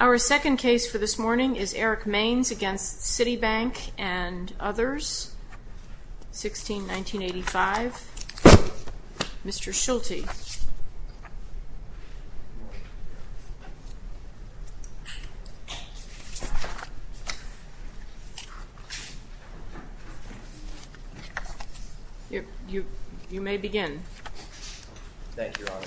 Our second case for this morning is Eric Mains v. Citibank and others, 16-1985. Mr. Schulte. You may begin. Thank you, Your Honor.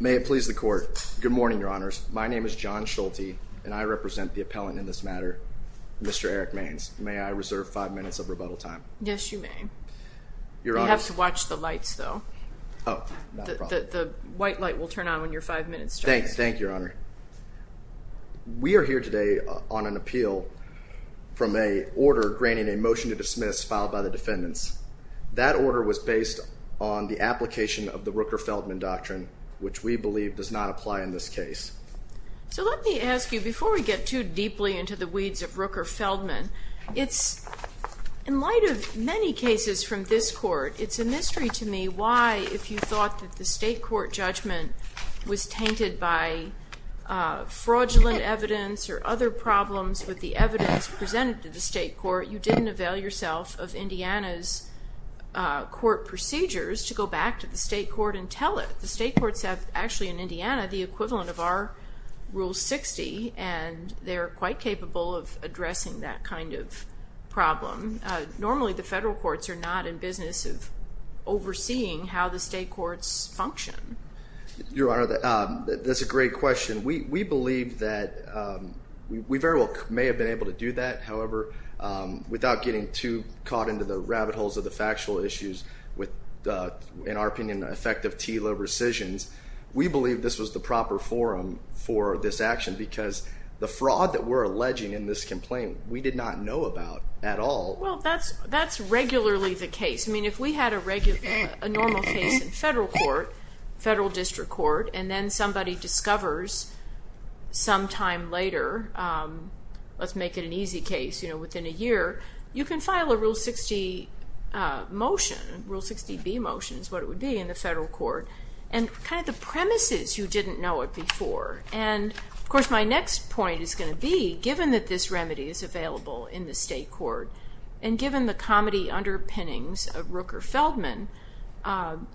May it please the Court. Good morning, Your Honors. My name is John Schulte and I represent the appellant in this matter, Mr. Eric Mains. May I reserve five minutes of rebuttal time? Yes, you may. Your Honors. You have to watch the lights, though. Oh, no problem. The white light will turn on when your five minutes starts. Thank you, Your Honor. We are here today on an appeal from an order granting a motion to dismiss filed by the defendants. That order was based on the application of the Rooker-Feldman Doctrine, which we believe does not apply in this case. So let me ask you, before we get too deeply into the weeds of Rooker-Feldman, in light of many cases from this Court, it's a mystery to me why, if you thought that the state court judgment was tainted by fraudulent evidence or other problems with the evidence presented to the state court, you didn't avail yourself of Indiana's court procedures to go back to the state court and tell it. The state courts have, actually in Indiana, the equivalent of our Rule 60, and they're quite capable of addressing that kind of problem. Normally, the federal courts are not in business of overseeing how the state courts function. Your Honor, that's a great question. We believe that we very well may have been able to do that. However, without getting too caught into the rabbit holes of the factual issues with, in our opinion, effective TILA rescissions, we believe this was the proper forum for this action because the fraud that we're alleging in this complaint, we did not know about at all. Well, that's regularly the case. I mean, if we had a normal case in federal court, federal district court, and then somebody discovers some time later, let's make it an easy case, you know, within a year, you can file a Rule 60 motion. Rule 60B motion is what it would be in the federal court. And kind of the premises, you didn't know it before. And, of course, my next point is going to be, given that this remedy is available in the state court and given the comedy underpinnings of Rooker-Feldman,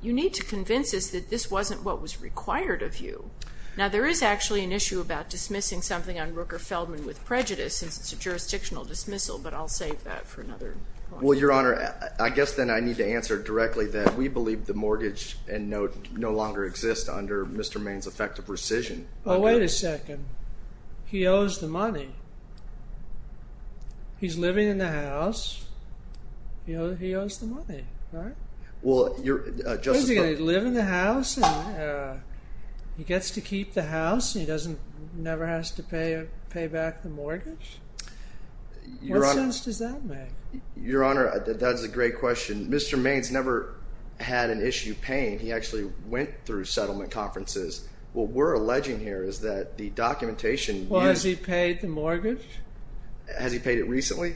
you need to convince us that this wasn't what was required of you. Now, there is actually an issue about dismissing something on Rooker-Feldman with prejudice since it's a jurisdictional dismissal, but I'll save that for another point. Well, Your Honor, I guess then I need to answer directly that we believe the mortgage and note no longer exist under Mr. Maine's effective rescission. But wait a second. He owes the money. He's living in the house. He owes the money, right? Well, Your Honor. He's going to live in the house and he gets to keep the house and he never has to pay back the mortgage? What sense does that make? Your Honor, that's a great question. Mr. Maine's never had an issue paying. He actually went through settlement conferences. What we're alleging here is that the documentation... Well, has he paid the mortgage? Has he paid it recently?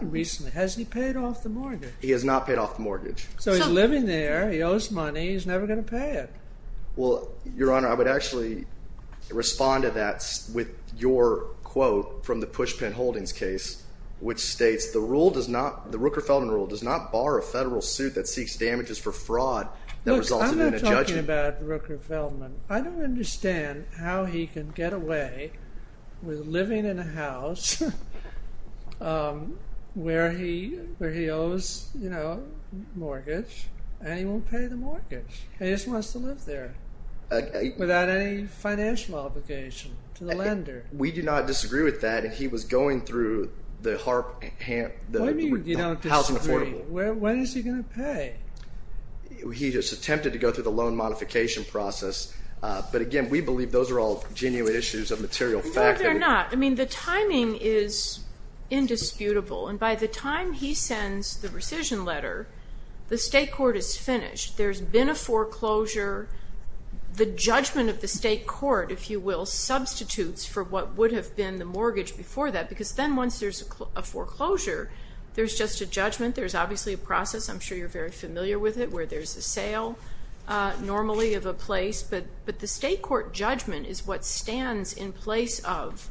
Recently. Has he paid off the mortgage? He has not paid off the mortgage. So he's living there. He owes money. He's never going to pay it. Well, Your Honor, I would actually respond to that with your quote from the Pushpin Holdings case, which states, the Rooker-Feldman rule does not bar a federal suit that seeks damages for fraud that resulted in a judgment. Look, I'm not talking about Rooker-Feldman. I don't understand how he can get away with living in a house where he owes mortgage and he won't pay the mortgage. He just wants to live there without any financial obligation to the lender. We do not disagree with that. He was going through the housing affordable. What do you mean you don't disagree? When is he going to pay? He just attempted to go through the loan modification process. But, again, we believe those are all genuine issues of material fact. No, they're not. I mean, the timing is indisputable. And by the time he sends the rescission letter, the state court is finished. There's been a foreclosure. The judgment of the state court, if you will, substitutes for what would have been the mortgage before that because then once there's a foreclosure, there's just a judgment. There's obviously a process. I'm sure you're very familiar with it where there's a sale normally of a place. But the state court judgment is what stands in place of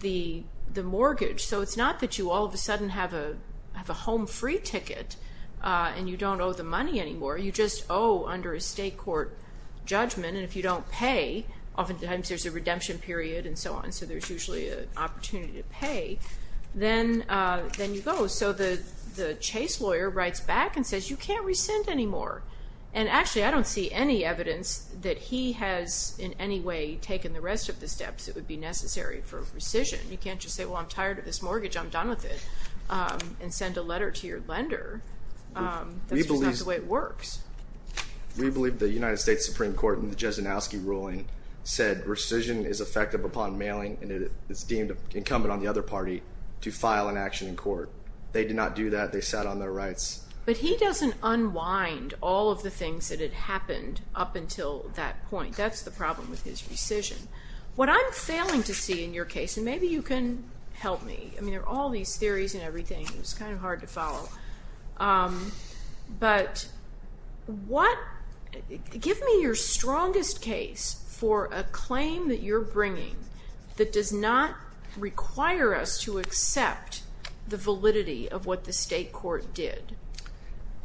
the mortgage. So it's not that you all of a sudden have a home-free ticket and you don't owe the money anymore. You just owe under a state court judgment. And if you don't pay, oftentimes there's a redemption period and so on, so there's usually an opportunity to pay. Then you go. So the chase lawyer writes back and says, You can't rescind anymore. And, actually, I don't see any evidence that he has in any way taken the rest of the steps that would be necessary for rescission. You can't just say, Well, I'm tired of this mortgage. I'm done with it. And send a letter to your lender. That's just not the way it works. We believe the United States Supreme Court in the Jesenowski ruling said rescission is effective upon mailing and it is deemed incumbent on the other party to file an action in court. They did not do that. They sat on their rights. But he doesn't unwind all of the things that had happened up until that point. That's the problem with his rescission. What I'm failing to see in your case, and maybe you can help me. I mean, there are all these theories and everything. It's kind of hard to follow. But give me your strongest case for a claim that you're bringing that does not require us to accept the validity of what the state court did.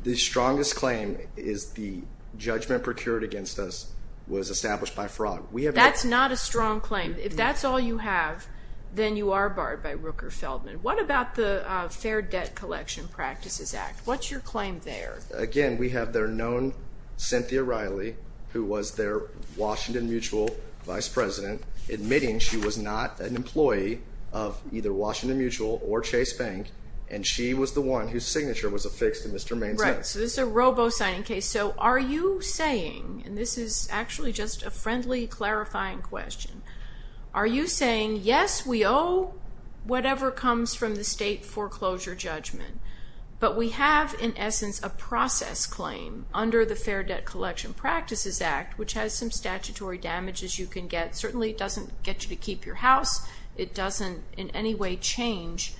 The strongest claim is the judgment procured against us was established by fraud. That's not a strong claim. If that's all you have, then you are barred by Rooker-Feldman. What about the Fair Debt Collection Practices Act? What's your claim there? Again, we have their known Cynthia Riley, who was their Washington Mutual vice president, admitting she was not an employee of either Washington Mutual or Chase Bank, and she was the one whose signature was affixed to Mr. Main's name. Right, so this is a robo-signing case. So are you saying, and this is actually just a friendly clarifying question, are you saying, yes, we owe whatever comes from the state foreclosure judgment, but we have, in essence, a process claim under the Fair Debt Collection Practices Act, which has some statutory damages you can get. Certainly it doesn't get you to keep your house. It doesn't in any way change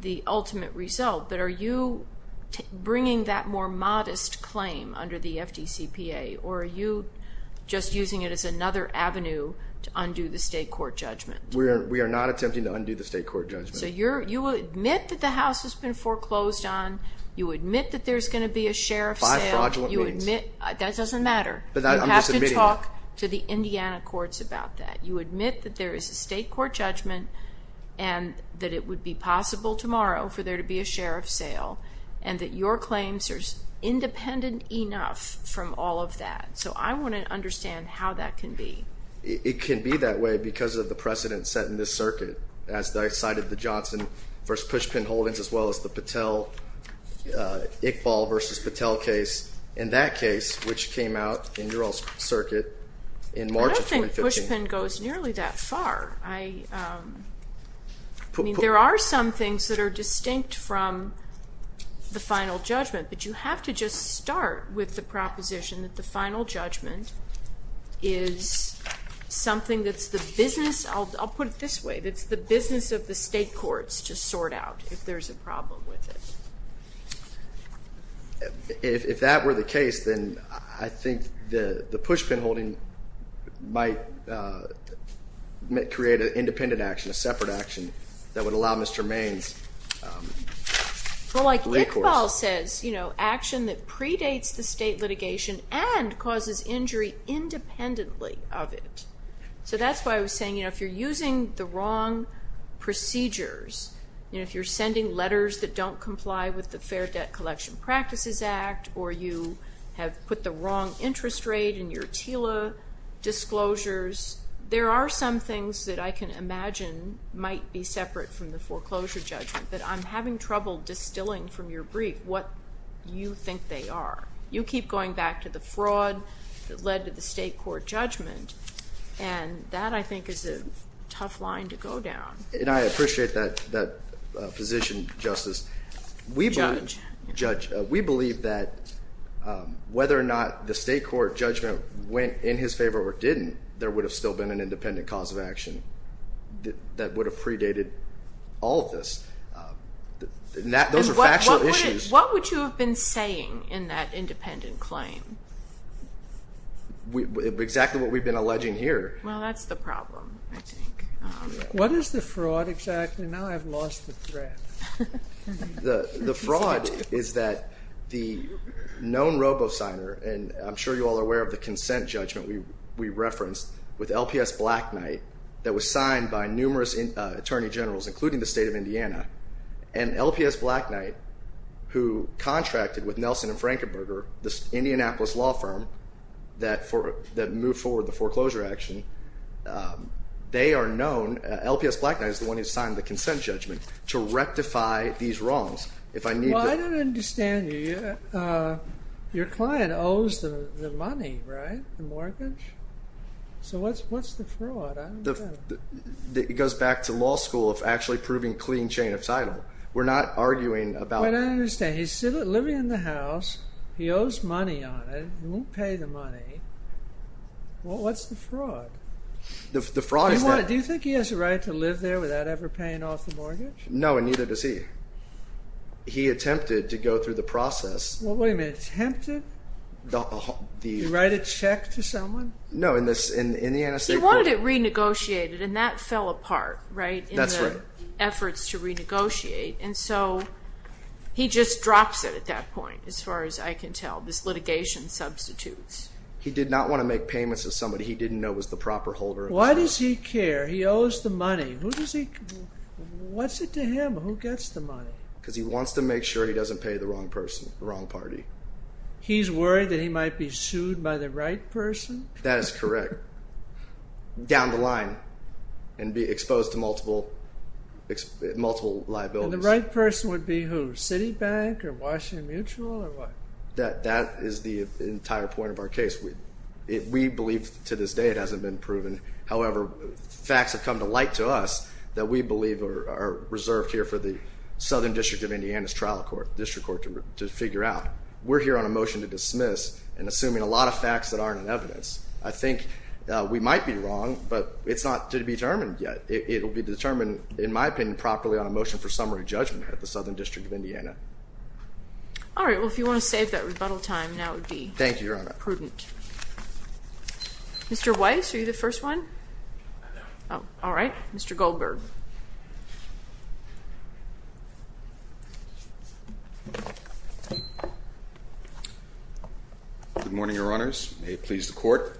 the ultimate result. But are you bringing that more modest claim under the FDCPA, or are you just using it as another avenue to undo the state court judgment? We are not attempting to undo the state court judgment. So you will admit that the house has been foreclosed on. You admit that there's going to be a sheriff sale. Five fraudulent meetings. That doesn't matter. But I'm just admitting it. You have to talk to the Indiana courts about that. You admit that there is a state court judgment and that it would be possible tomorrow for there to be a sheriff sale and that your claims are independent enough from all of that. So I want to understand how that can be. It can be that way because of the precedent set in this circuit, as I cited the Johnson v. Pushpin holdings, as well as the Patel-Iqbal v. Patel case, and that case, which came out in your old circuit in March of 2015. The Pushpin goes nearly that far. There are some things that are distinct from the final judgment, but you have to just start with the proposition that the final judgment is something that's the business of the state courts to sort out if there's a problem with it. If that were the case, then I think the Pushpin holding might create an independent action, a separate action that would allow Mr. Maine's recourse. Well, like Iqbal says, action that predates the state litigation and causes injury independently of it. So that's why I was saying if you're using the wrong procedures, if you're sending letters that don't comply with the Fair Debt Collection Practices Act or you have put the wrong interest rate in your TILA disclosures, there are some things that I can imagine might be separate from the foreclosure judgment, but I'm having trouble distilling from your brief what you think they are. You keep going back to the fraud that led to the state court judgment, and that, I think, is a tough line to go down. And I appreciate that position, Justice. Judge. We believe that whether or not the state court judgment went in his favor or didn't, there would have still been an independent cause of action that would have predated all of this. Those are factual issues. What would you have been saying in that independent claim? Exactly what we've been alleging here. Well, that's the problem, I think. What is the fraud exactly? Now I've lost the thread. The fraud is that the known robo-signer, and I'm sure you all are aware of the consent judgment we referenced with LPS Blackknight that was signed by numerous attorney generals, including the state of Indiana, and LPS Blackknight, who contracted with Nelson and Frankenberger, this Indianapolis law firm that moved forward the foreclosure action, they are known, LPS Blackknight is the one who signed the consent judgment, to rectify these wrongs. Well, I don't understand you. Your client owes the money, right? The mortgage? So what's the fraud? It goes back to law school of actually proving clean chain of title. We're not arguing about... I don't understand. He owes money on it. He won't pay the money. Well, what's the fraud? The fraud is that... Do you think he has a right to live there without ever paying off the mortgage? No, and neither does he. He attempted to go through the process. Well, wait a minute. Attempted? Did he write a check to someone? No, in the... He wanted it renegotiated, and that fell apart, right? That's right. In the efforts to renegotiate. And so he just drops it at that point, as far as I can tell. This litigation substitutes. He did not want to make payments to somebody he didn't know was the proper holder. Why does he care? He owes the money. Who does he... What's it to him? Who gets the money? Because he wants to make sure he doesn't pay the wrong person, the wrong party. He's worried that he might be sued by the right person? That is correct. Down the line. And be exposed to multiple liabilities. And the right person would be who? Citibank or Washington Mutual or what? That is the entire point of our case. We believe to this day it hasn't been proven. However, facts have come to light to us that we believe are reserved here for the Southern District of Indiana's trial court, district court, to figure out. We're here on a motion to dismiss and assuming a lot of facts that aren't in evidence. I think we might be wrong, but it's not to be determined yet. It will be determined, in my opinion, properly on a motion for summary judgment at the Southern District of Indiana. All right. Well, if you want to save that rebuttal time, now would be prudent. Thank you, Your Honor. Mr. Weiss, are you the first one? All right. Mr. Goldberg. Good morning, Your Honors. May it please the Court.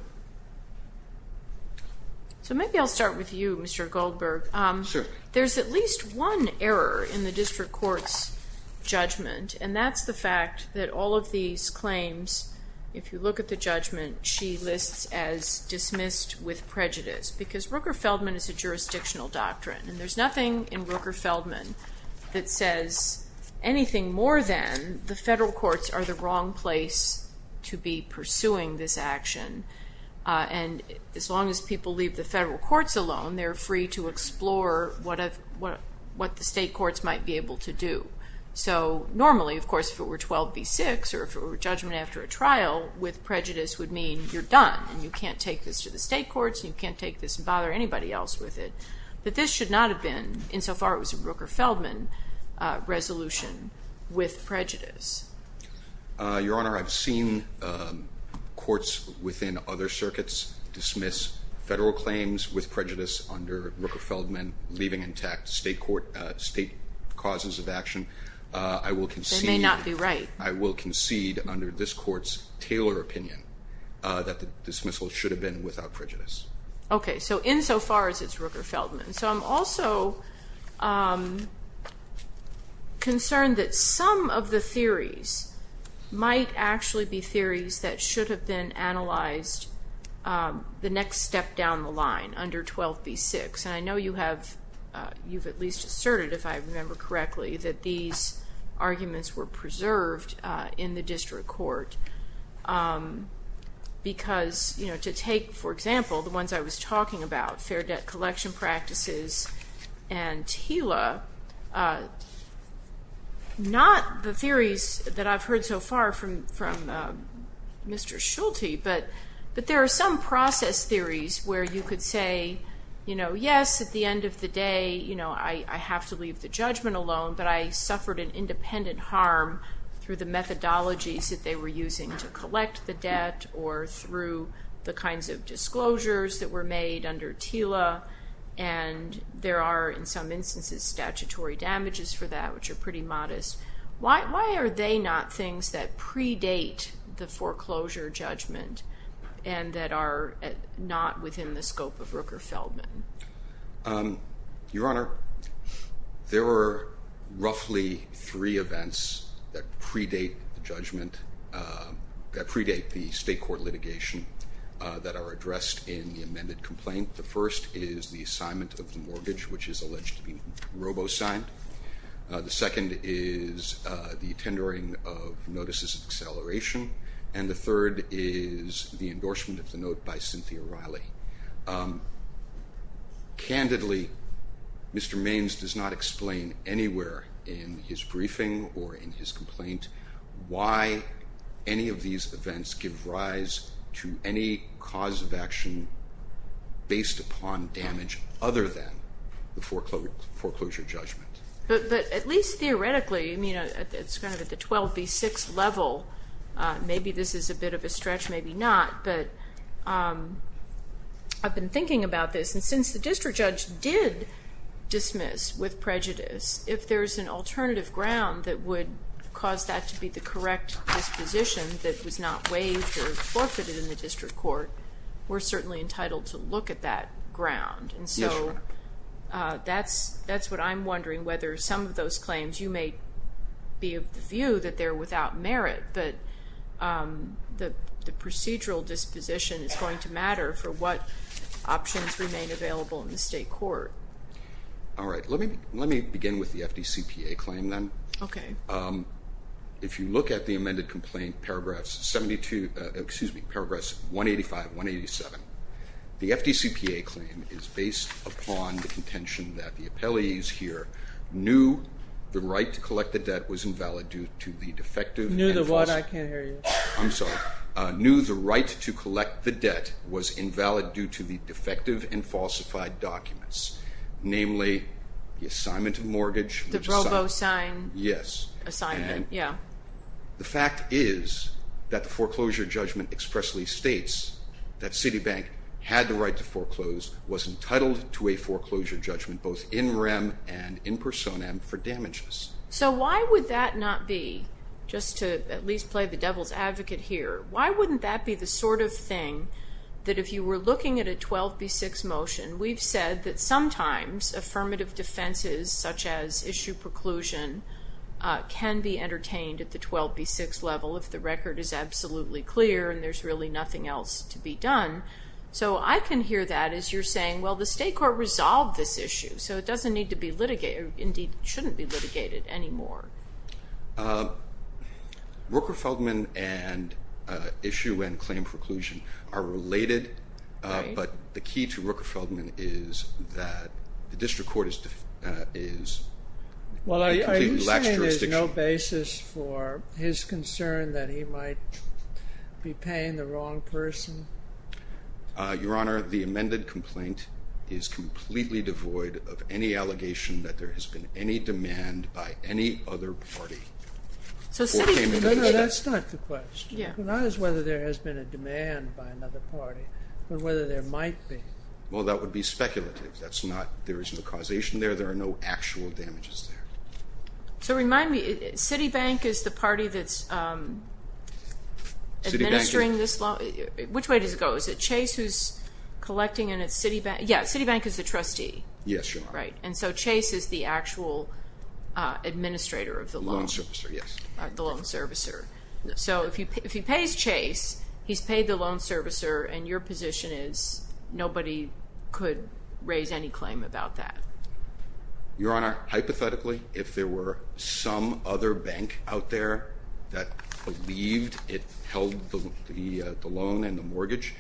So maybe I'll start with you, Mr. Goldberg. Sure. There's at least one error in the district court's judgment, and that's the fact that all of these claims, if you look at the judgment, she lists as dismissed with prejudice. Because Rooker-Feldman is a jurisdictional doctrine, and there's nothing in Rooker-Feldman that says anything more than the federal courts are the wrong place to be pursuing this action. And as long as people leave the federal courts alone, they're free to explore what the state courts might be able to do. So normally, of course, if it were 12 v. 6, or if it were a judgment after a trial, with prejudice would mean you're done, and you can't take this to the state courts, and you can't take this and bother anybody else with it. But this should not have been, insofar it was a Rooker-Feldman resolution, with prejudice. Your Honor, I've seen courts within other circuits dismiss federal claims with prejudice under Rooker-Feldman, leaving intact state causes of action. They may not be right. I will concede under this court's Taylor opinion that the dismissal should have been without prejudice. Okay. So insofar as it's Rooker-Feldman. So I'm also concerned that some of the theories might actually be theories that should have been analyzed the next step down the line, under 12 v. 6. And I know you have at least asserted, if I remember correctly, that these arguments were preserved in the district court. Because, you know, to take, for example, the ones I was talking about, fair debt collection practices and TILA, not the theories that I've heard so far from Mr. Schulte, but there are some process theories where you could say, you know, yes, at the end of the day, you know, I have to leave the judgment alone, but I suffered an independent harm through the methodologies that they were using to collect the debt, or through the kinds of disclosures that were made under TILA. And there are, in some instances, statutory damages for that, which are pretty modest. Why are they not things that predate the foreclosure judgment and that are not within the scope of Rooker-Feldman? Your Honor, there are roughly three events that predate the judgment, that predate the state court litigation, that are addressed in the amended complaint. The first is the assignment of the mortgage, which is alleged to be robo-signed. The second is the tendering of notices of acceleration. And the third is the endorsement of the note by Cynthia Riley. Candidly, Mr. Maines does not explain anywhere in his briefing or in his complaint why any of these events give rise to any cause of action based upon damage other than the foreclosure judgment. But at least theoretically, I mean, it's kind of at the 12B6 level. Maybe this is a bit of a stretch, maybe not. But I've been thinking about this, and since the district judge did dismiss with prejudice, if there's an alternative ground that would cause that to be the correct disposition that was not waived or forfeited in the district court, we're certainly entitled to look at that ground. Yes, Your Honor. And so that's what I'm wondering, whether some of those claims, you may be of the view that they're without merit, but the procedural disposition is going to matter for what options remain available in the state court. All right. Let me begin with the FDCPA claim then. Okay. If you look at the amended complaint, paragraphs 185, 187, the FDCPA claim is based upon the contention that the appellees here knew the right to collect the debt was invalid due to the defective and falsified. Knew the what? I can't hear you. I'm sorry. Knew the right to collect the debt was invalid due to the defective and falsified documents, namely the assignment of mortgage. The Bravo sign. Yes. Assignment, yeah. The fact is that the foreclosure judgment expressly states that Citibank had the right to foreclose, was entitled to a foreclosure judgment both in rem and in personam for damages. So why would that not be, just to at least play the devil's advocate here, why wouldn't that be the sort of thing that if you were looking at a 12B6 motion, we've said that sometimes affirmative defenses such as issue preclusion can be entertained at the 12B6 level if the record is absolutely clear and there's really nothing else to be done. So I can hear that as you're saying, well, the state court resolved this issue, so it doesn't need to be litigated, or indeed shouldn't be litigated anymore. Rooker-Feldman and issue and claim preclusion are related, but the key to Rooker-Feldman is that the district court is a completely lax jurisdiction. Well, are you saying there's no basis for his concern that he might be paying the wrong person? Your Honor, the amended complaint is completely devoid of any allegation that there has been any demand by any other party. No, no, that's not the question. Not as whether there has been a demand by another party, but whether there might be. Well, that would be speculative. There is no causation there. There are no actual damages there. So remind me, Citibank is the party that's administering this loan? Which way does it go? Is it Chase who's collecting in its Citibank? Yeah, Citibank is the trustee. Yes, Your Honor. Right, and so Chase is the actual administrator of the loan. The loan servicer, yes. The loan servicer. So if he pays Chase, he's paid the loan servicer, and your position is nobody could raise any claim about that? Your Honor, hypothetically, if there were some other bank out there that believed it held the loan and the mortgage,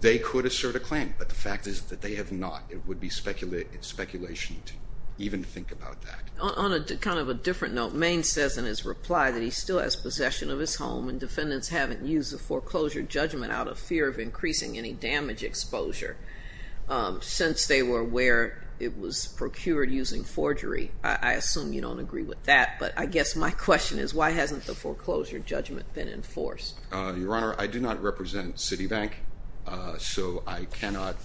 they could assert a claim, but the fact is that they have not. It would be speculation to even think about that. On kind of a different note, Maine says in his reply that he still has possession of his home and defendants haven't used the foreclosure judgment out of fear of increasing any damage exposure since they were aware it was procured using forgery. I assume you don't agree with that, but I guess my question is why hasn't the foreclosure judgment been enforced? Your Honor, I do not represent Citibank, so I cannot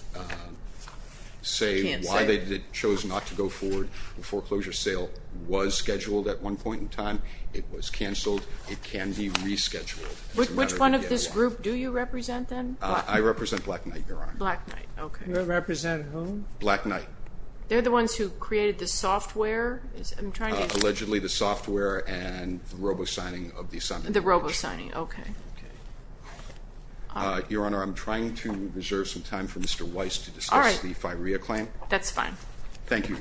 say why they chose not to go forward with the foreclosure judgment. The foreclosure sale was scheduled at one point in time. It was canceled. It can be rescheduled. Which one of this group do you represent then? I represent Black Knight, Your Honor. Black Knight, okay. You represent whom? Black Knight. They're the ones who created the software? Allegedly the software and the robo-signing of the assignment. The robo-signing, okay. Your Honor, I'm trying to reserve some time for Mr. Weiss to discuss the FIREA claim. That's fine. Thank you.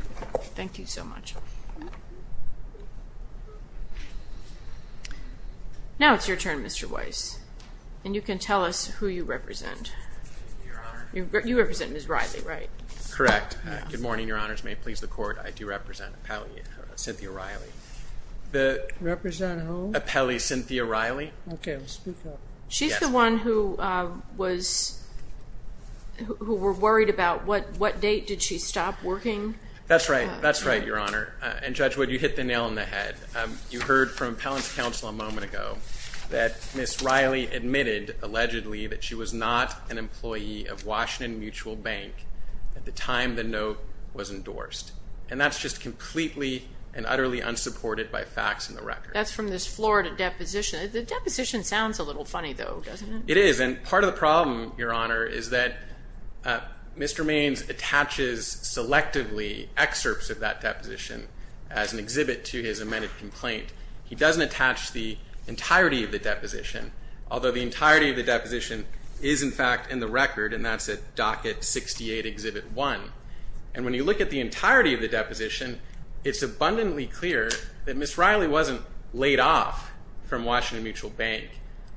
Thank you so much. Now it's your turn, Mr. Weiss, and you can tell us who you represent. Your Honor. You represent Ms. Riley, right? Correct. Good morning, Your Honors. May it please the Court, I do represent Cynthia Riley. Represent who? Appellee Cynthia Riley. Okay, I'll speak up. She's the one who was, who were worried about what date did she stop working? That's right. That's right, Your Honor. And Judge Wood, you hit the nail on the head. You heard from Appellant's counsel a moment ago that Ms. Riley admitted, allegedly, that she was not an employee of Washington Mutual Bank at the time the note was endorsed. And that's just completely and utterly unsupported by facts in the record. That's from this Florida deposition. The deposition sounds a little funny, though, doesn't it? It is. And part of the problem, Your Honor, is that Mr. Maines attaches selectively excerpts of that deposition as an exhibit to his amended complaint. He doesn't attach the entirety of the deposition, although the entirety of the deposition is, in fact, in the record, and that's at Docket 68, Exhibit 1. And when you look at the entirety of the deposition, it's abundantly clear that Ms. Riley wasn't laid off from Washington Mutual Bank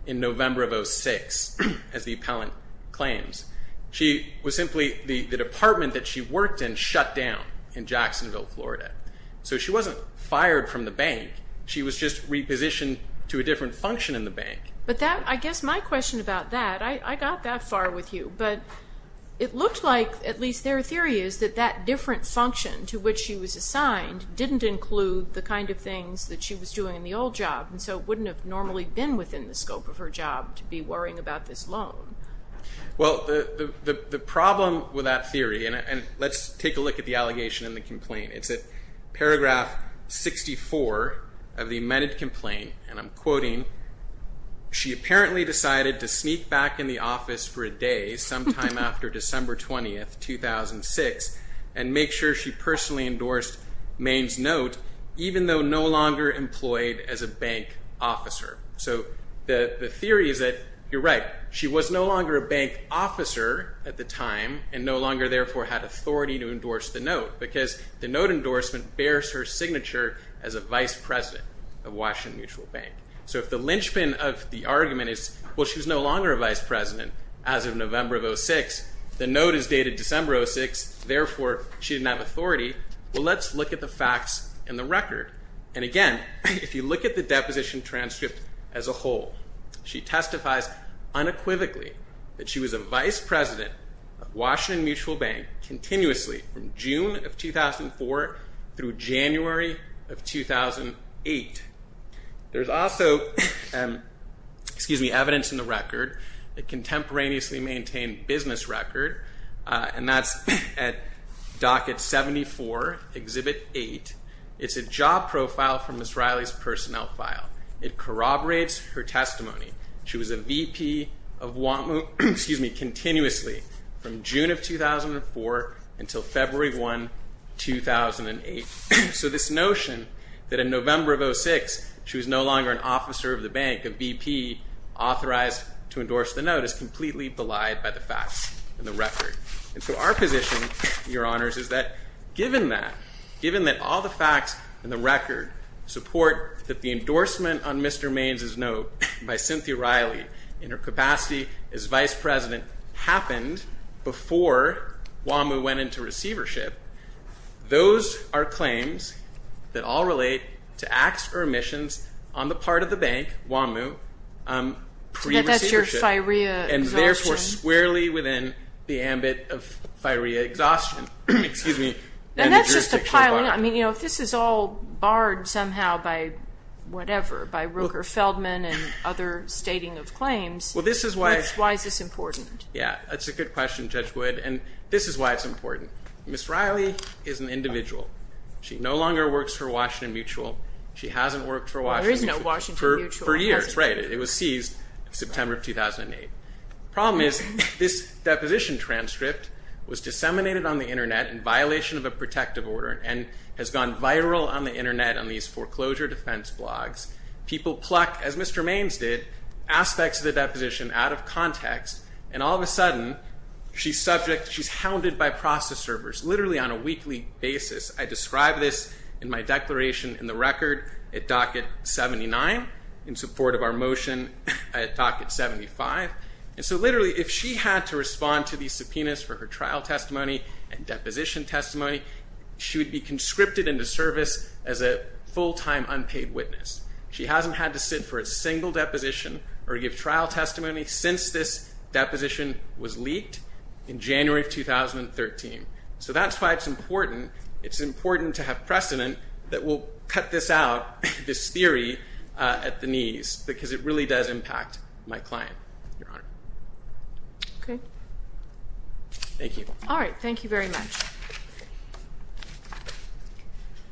in November of 2006, as the appellant claims. She was simply the department that she worked in shut down in Jacksonville, Florida. So she wasn't fired from the bank. She was just repositioned to a different function in the bank. But I guess my question about that, I got that far with you, but it looked like, at least their theory is, that that different function to which she was assigned didn't include the kind of things that she was doing in the old job, and so it wouldn't have normally been within the scope of her job to be worrying about this loan. Well, the problem with that theory, and let's take a look at the allegation in the complaint, it's at paragraph 64 of the amended complaint, and I'm quoting, she apparently decided to sneak back in the office for a day sometime after December 20th, 2006, and make sure she personally endorsed Maine's note, even though no longer employed as a bank officer. So the theory is that you're right. She was no longer a bank officer at the time, and no longer therefore had authority to endorse the note, because the note endorsement bears her signature as a vice president of Washington Mutual Bank. So if the linchpin of the argument is, well, she was no longer a vice president as of November of 2006, the note is dated December of 2006, therefore she didn't have authority. Well, let's look at the facts in the record. And again, if you look at the deposition transcript as a whole, she testifies unequivocally that she was a vice president of Washington Mutual Bank continuously from June of 2004 through January of 2008. There's also, excuse me, evidence in the record, a contemporaneously maintained business record, and that's at docket 74, exhibit 8. It's a job profile from Ms. Riley's personnel file. It corroborates her testimony. She was a VP of, excuse me, continuously from June of 2004 until February 1, 2008. So this notion that in November of 2006, she was no longer an officer of the bank, a VP, authorized to endorse the note is completely belied by the facts in the record. And so our position, Your Honors, is that given that, given that all the facts in the record support that the endorsement on Mr. Maine's note by Cynthia Riley in her capacity as vice president happened before WAMU went into receivership, those are claims that all relate to acts or omissions on the part of the bank, WAMU, pre-receivership. And that's your firea exhaustion. And therefore squarely within the ambit of firea exhaustion. Excuse me. And that's just a piling up. I mean, you know, if this is all barred somehow by whatever, by Roker Feldman and other stating of claims, why is this important? Yeah. That's a good question, Judge Wood. And this is why it's important. Ms. Riley is an individual. She no longer works for Washington Mutual. She hasn't worked for Washington Mutual for years. Right. It was seized September of 2008. Problem is this deposition transcript was disseminated on the internet in violation of a protective order and has gone viral on the internet on these foreclosure defense blogs. People pluck, as Mr. And all of a sudden she's subject, she's hounded by process servers literally on a weekly basis. I describe this in my declaration in the record at docket 79 in support of our motion at docket 75. And so literally if she had to respond to these subpoenas for her trial testimony and deposition testimony, she would be conscripted into service as a full-time unpaid witness. She hasn't had to sit for a single deposition or give trial testimony since this deposition was leaked in January of 2013. So that's why it's important. It's important to have precedent that will cut this out, this theory at the knees because it really does impact my client. Your Honor. Okay. Thank you. All right. Thank you very much.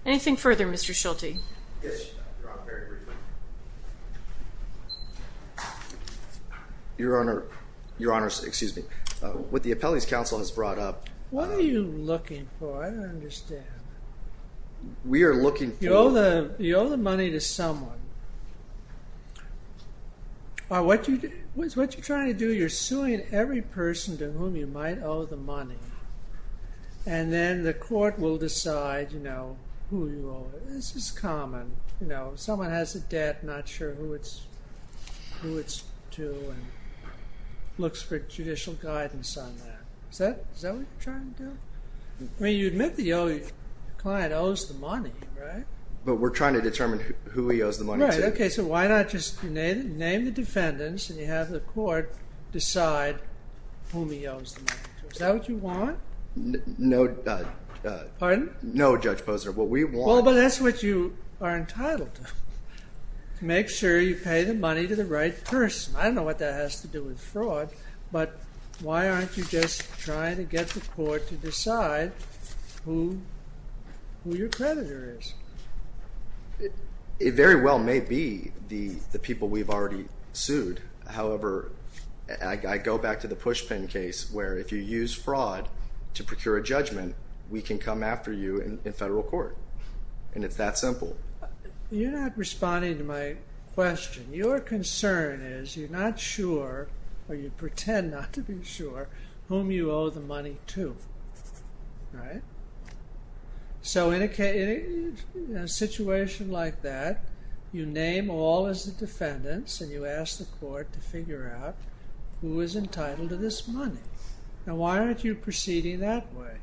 Anything further? Mr. Schulte. Yes. Your Honor. Your Honor, excuse me. What the appellate's counsel has brought up. What are you looking for? I don't understand. We are looking for. You owe the money to someone. What you're trying to do, you're suing every person to whom you might owe the money. And then the court will decide, you know, who you owe. This is common. You know, someone has a debt, not sure who it's to and looks for judicial guidance on that. Is that what you're trying to do? I mean, you admit the client owes the money, right? But we're trying to determine who he owes the money to. Right. Okay. So why not just name the defendants and you have the court decide whom he owes the money to. Is that what you want? No. Pardon? No, Judge Posner. Well, but that's what you are entitled to. Make sure you pay the money to the right person. I don't know what that has to do with fraud, but why aren't you just trying to get the court to decide who your creditor is? It very well may be the people we've already sued. However, judgment, we can come after you in federal court. And it's that simple. You're not responding to my question. Your concern is you're not sure or you pretend not to be sure whom you owe the money to. Right. So in a situation like that, you name all as the defendants and you ask the court to figure out who is entitled to this money. why aren't you proceeding that way?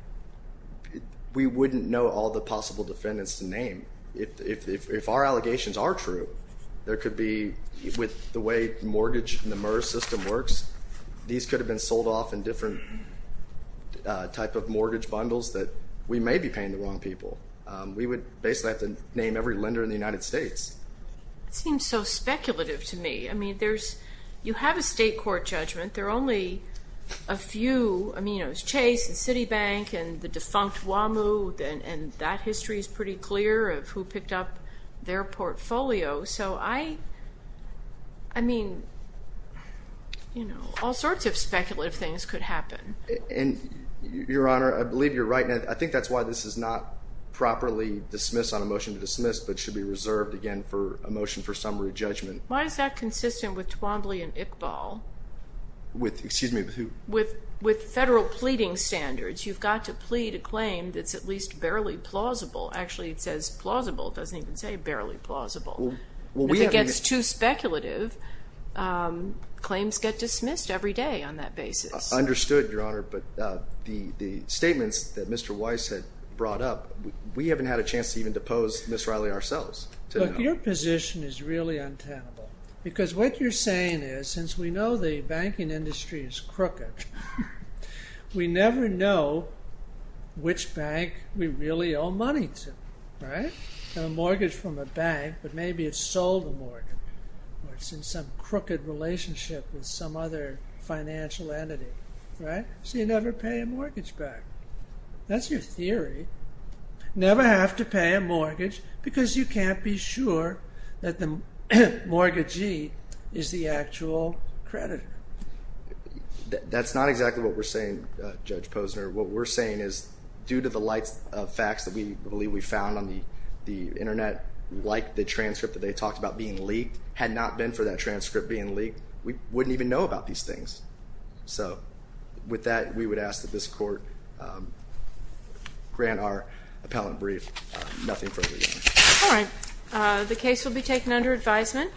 We wouldn't know all the possible defendants to name. If our allegations are true, there could be with the way mortgage and the MERS system works, these could have been sold off in different type of mortgage bundles that we may be paying the wrong people. We would basically have to name every lender in the United States. It seems so speculative to me. I mean, you have a state court judgment. There are only a few, I mean, it was Chase and Citibank and the defunct WAMU. And that history is pretty clear of who picked up their portfolio. So I, I mean, you know, all sorts of speculative things could happen. And your honor, I believe you're right. And I think that's why this is not properly dismissed on a motion to dismiss, but should be reserved again for a motion for summary judgment. Why is that consistent with Twombly and Iqbal? With, excuse me, with, with federal pleading standards, you've got to plead a claim that's at least barely plausible. Actually, it says plausible. It doesn't even say barely plausible. If it gets too speculative, claims get dismissed every day on that basis. Understood your honor. But the, the statements that Mr. Weiss had brought up, we haven't had a chance to even depose Ms. Riley ourselves. Your position is really untenable because what you're saying is since we know the banking industry is crooked, we never know which bank we really owe money to, right? A mortgage from a bank, but maybe it's sold a mortgage or it's in some crooked relationship with some other financial entity, right? So you never pay a mortgage back. That's your theory. Never have to pay a mortgage because you can't be sure that the credit, that's not exactly what we're saying. Judge Posner, what we're saying is due to the lights of facts that we believe we found on the, the internet, like the transcript that they talked about being leaked had not been for that transcript being leaked. We wouldn't even know about these things. So with that, we would ask that this court grant our appellant brief, nothing. All right. The case will be taken under advisement.